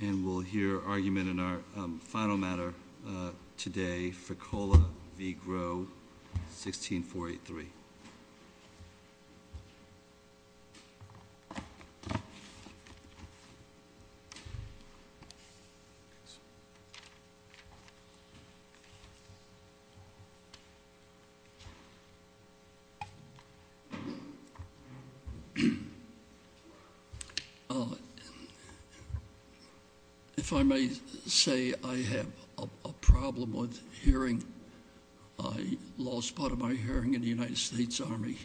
And we'll hear argument in our final matter today, Fraccola v. Grow, 16483. If I may say, I have a problem with hearing. I lost part of my hearing in the United States Army.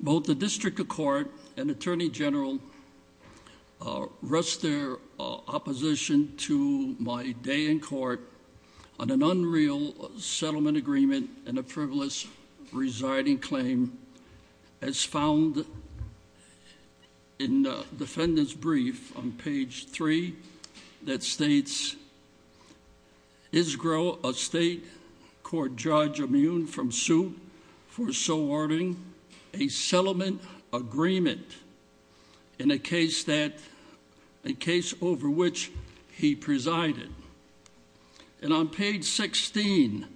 Both the District of Court and Attorney General rest their opposition to my day in court on an unreal settlement agreement and a frivolous residing claim as found in the defendant's brief on page 3 that states, is Grow, a state court judge, immune from suit for so ordering a settlement agreement in a case over which he presided. And on page 16,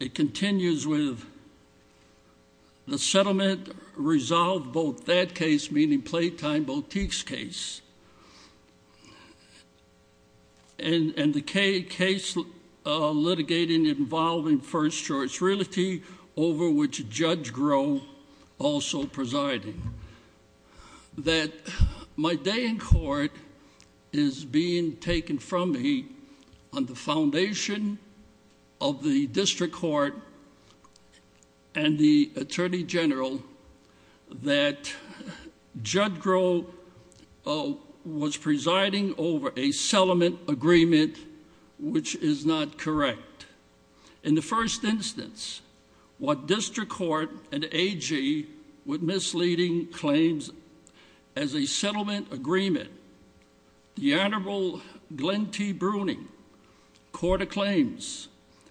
it continues with, the settlement resolved both that case, meaning Playtime Boutique's case, and the case litigating involving first choice realty over which Judge Grow also presiding. That my day in court is being taken from me on the foundation of the District Court and the Attorney General that Judge Grow was presiding over a settlement agreement which is not correct. In the first instance, what District Court and AG with misleading claims as a settlement agreement, the Honorable Glenn T. Bruning, court acclaims,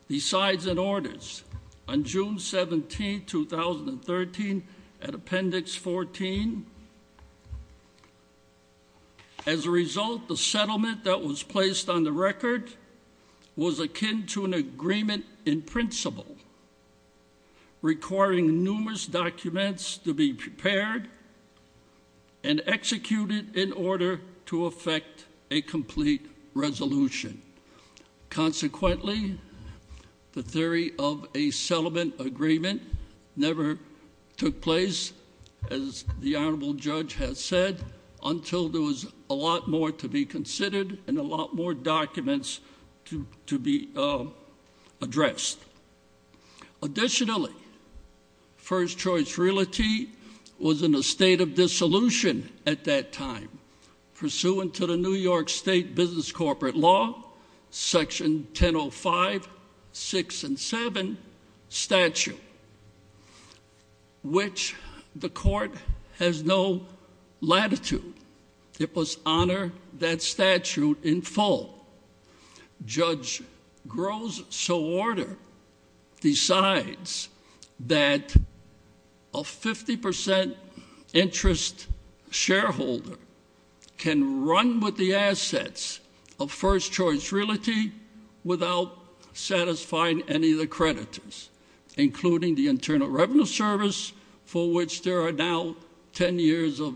decides, and orders on June 17, 2013 at Appendix 14. As a result, the settlement that was placed on the record was akin to an agreement in principle requiring numerous documents to be prepared and executed in order to effect a complete resolution. Consequently, the theory of a settlement agreement never took place, as the Honorable Judge has said, until there was a lot more to be considered and a lot more documents to be addressed. Additionally, first choice realty was in a state of dissolution at that time, pursuant to the New York State Business Corporate Law, Section 1005, 6, and 7 statute, which the court has no latitude. It must honor that statute in full. Judge Grosso's order decides that a 50% interest shareholder can run with the assets of first choice realty without satisfying any of the creditors, including the Internal Revenue Service, for which there are now 10 years of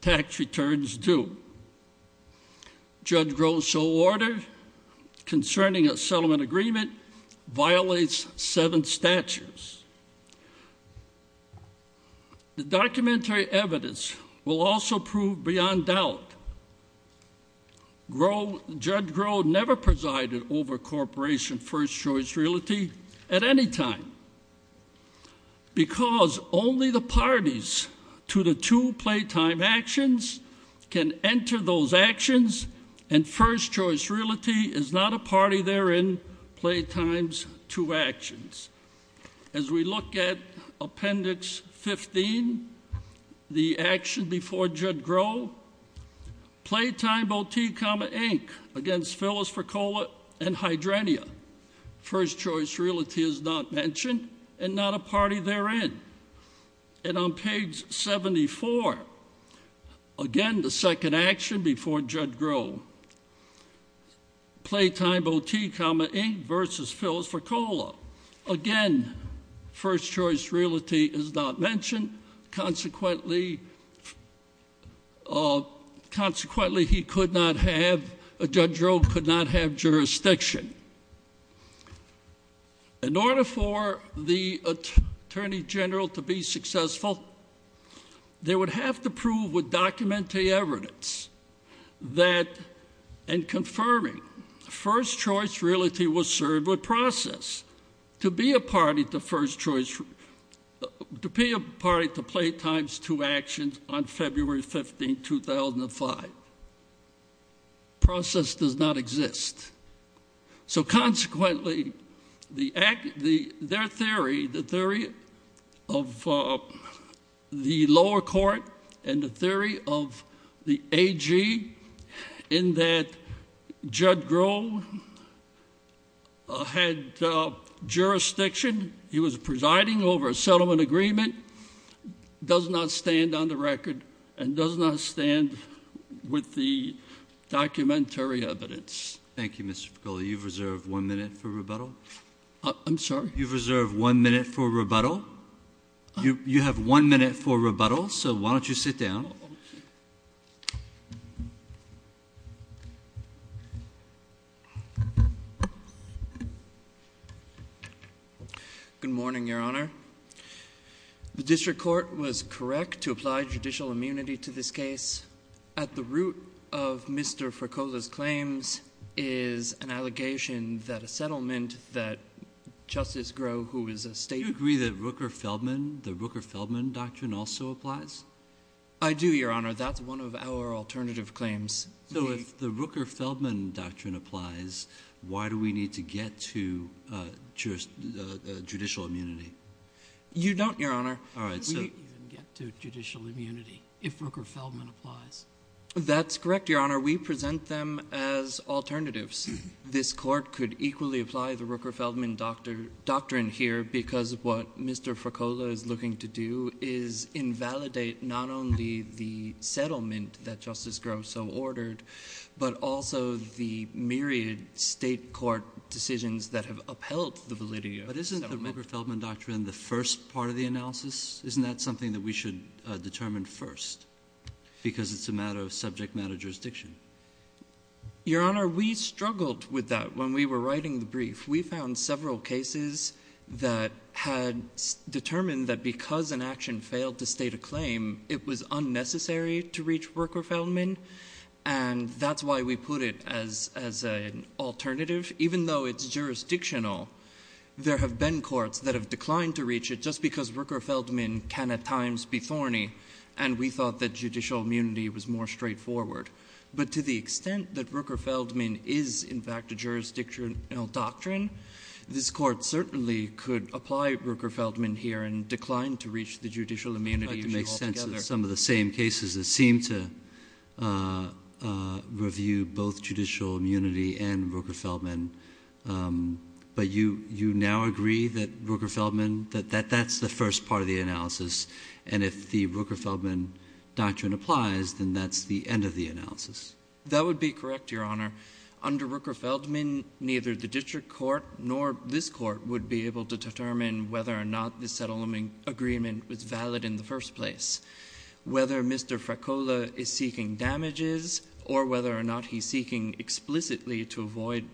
tax returns due. Judge Grosso's order concerning a settlement agreement violates seven statutes. The documentary evidence will also prove beyond doubt Judge Grosso never presided over corporation first choice realty at any time, because only the parties to the two playtime actions can enter those actions, and first choice realty is not a party therein, playtime's two actions. As we look at Appendix 15, the action before Judge Grosso, playtime, both T, comma, Inc., against Phyllis Forcola and Hydrenia, first choice realty is not mentioned and not a party therein. And on page 74, again, the second action before Judge Grosso, playtime, both T, comma, Inc., versus Phyllis Forcola. Again, first choice realty is not mentioned. Consequently, Judge Grosso could not have jurisdiction. In order for the Attorney General to be successful, they would have to prove with documentary evidence that in confirming first choice realty was served with process to be a party to playtime's two actions on February 15, 2005. Process does not exist. So consequently, their theory, the theory of the lower court and the theory of the AG in that Judge Grosso had jurisdiction, he was presiding over a settlement agreement, does not stand on the record and does not stand with the documentary evidence. Thank you, Mr. Forcola. You've reserved one minute for rebuttal. I'm sorry? You've reserved one minute for rebuttal. You have one minute for rebuttal, so why don't you sit down. Good morning, Your Honor. The district court was correct to apply judicial immunity to this case. At the root of Mr. Forcola's claims is an allegation that a settlement that Justice Grosso, who is a stateman. Do you agree that the Rooker-Feldman doctrine also applies? I do, Your Honor. That's one of our alternative claims. So if the Rooker-Feldman doctrine applies, why do we need to get to judicial immunity? You don't, Your Honor. All right. We don't even get to judicial immunity. If Rooker-Feldman applies. That's correct, Your Honor. We present them as alternatives. This court could equally apply the Rooker-Feldman doctrine here, because of what Mr. Forcola is looking to do is invalidate not only the settlement that Justice Grosso ordered, but also the myriad state court decisions that have upheld the validity of the settlement. But isn't the Rooker-Feldman doctrine the first part of the analysis? Isn't that something that we should determine first? Because it's a matter of subject matter jurisdiction. Your Honor, we struggled with that when we were writing the brief. We found several cases that had determined that because an action failed to state a claim, it was unnecessary to reach Rooker-Feldman. And that's why we put it as an alternative. Even though it's jurisdictional, there have been courts that have declined to reach it just because Rooker-Feldman can at times be thorny, and we thought that judicial immunity was more straightforward. But to the extent that Rooker-Feldman is, in fact, a jurisdictional doctrine, this court certainly could apply Rooker-Feldman here and decline to reach the judicial immunity issue altogether. I'd like to make sense of some of the same cases that seem to review both judicial immunity and Rooker-Feldman. But you now agree that that's the first part of the analysis, and if the Rooker-Feldman doctrine applies, then that's the end of the analysis? That would be correct, Your Honor. Under Rooker-Feldman, neither the district court nor this court would be able to determine whether or not the settlement agreement was valid in the first place. Whether Mr. Fracola is seeking damages or whether or not he's seeking explicitly to avoid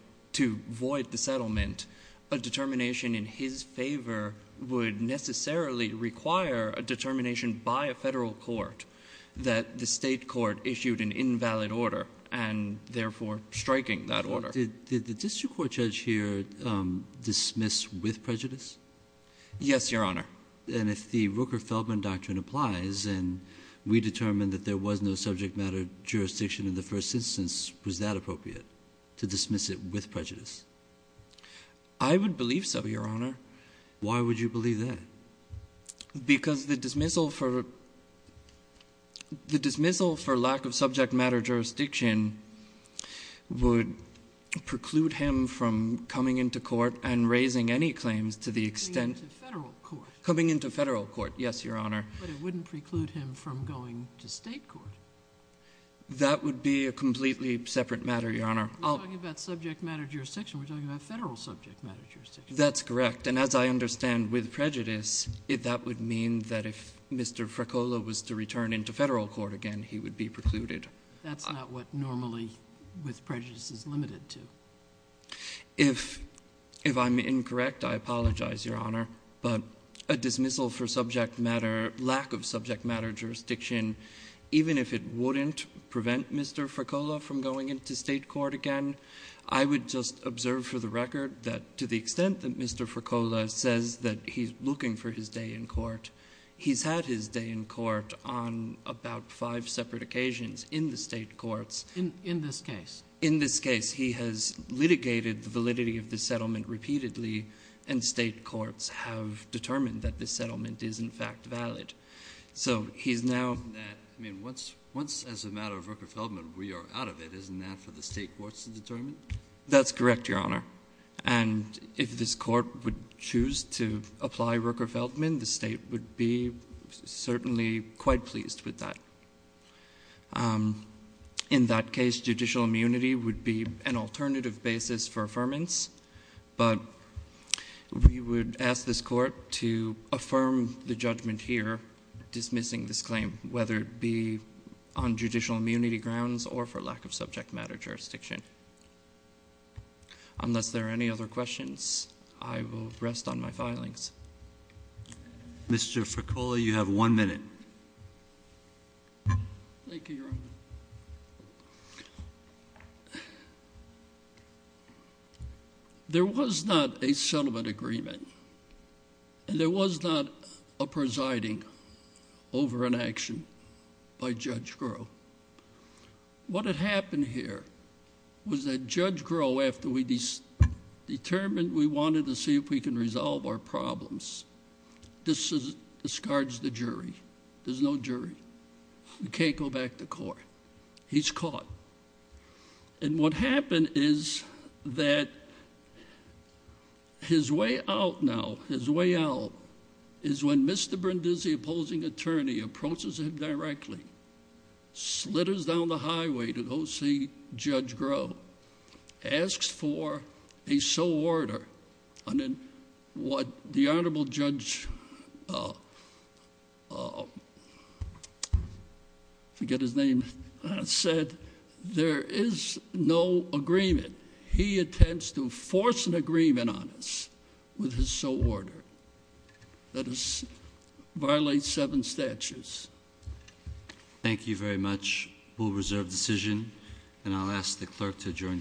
the settlement, a determination in his favor would necessarily require a determination by a federal court that the state court issued an invalid order, and therefore striking that order. Did the district court judge here dismiss with prejudice? Yes, Your Honor. And if the Rooker-Feldman doctrine applies and we determine that there was no subject matter jurisdiction in the first instance, was that appropriate, to dismiss it with prejudice? I would believe so, Your Honor. Why would you believe that? Because the dismissal for lack of subject matter jurisdiction would preclude him from coming into court and raising any claims to the extent. Coming into federal court. Coming into federal court, yes, Your Honor. But it wouldn't preclude him from going to state court. That would be a completely separate matter, Your Honor. We're talking about subject matter jurisdiction. We're talking about federal subject matter jurisdiction. That's correct. And as I understand, with prejudice, that would mean that if Mr. Fracola was to return into federal court again, he would be precluded. That's not what normally with prejudice is limited to. If I'm incorrect, I apologize, Your Honor. But a dismissal for lack of subject matter jurisdiction, even if it wouldn't prevent Mr. Fracola from going into state court again, I would just observe for the record that to the extent that Mr. Fracola says that he's looking for his day in court, he's had his day in court on about five separate occasions in the state courts. In this case. In this case. He has litigated the validity of the settlement repeatedly and state courts have determined that this settlement is, in fact, valid. So he's now. I mean, once as a matter of Rooker-Feldman, we are out of it. Isn't that for the state courts to determine? That's correct, Your Honor. And if this court would choose to apply Rooker-Feldman, the state would be certainly quite pleased with that. In that case, judicial immunity would be an alternative basis for affirmance. But we would ask this court to affirm the judgment here, dismissing this claim, whether it be on judicial immunity grounds or for lack of subject matter jurisdiction. Unless there are any other questions, I will rest on my filings. Mr. Fracola, you have one minute. There was not a settlement agreement. And there was not a presiding over an action by Judge Groh. What had happened here was that Judge Groh, after we determined we wanted to see if we can resolve our problems, discards the jury. There's no jury. We can't go back to court. He's caught. And what happened is that his way out now, his way out, is when Mr. Brindisi, opposing attorney, approaches him directly, slitters down the highway to go see Judge Groh, asks for a sole order. And then what the honorable judge, forget his name, said, there is no agreement. He attempts to force an agreement on us with his sole order that violates seven statutes. Thank you very much. We'll reserve decision. And I'll ask the clerk to adjourn court.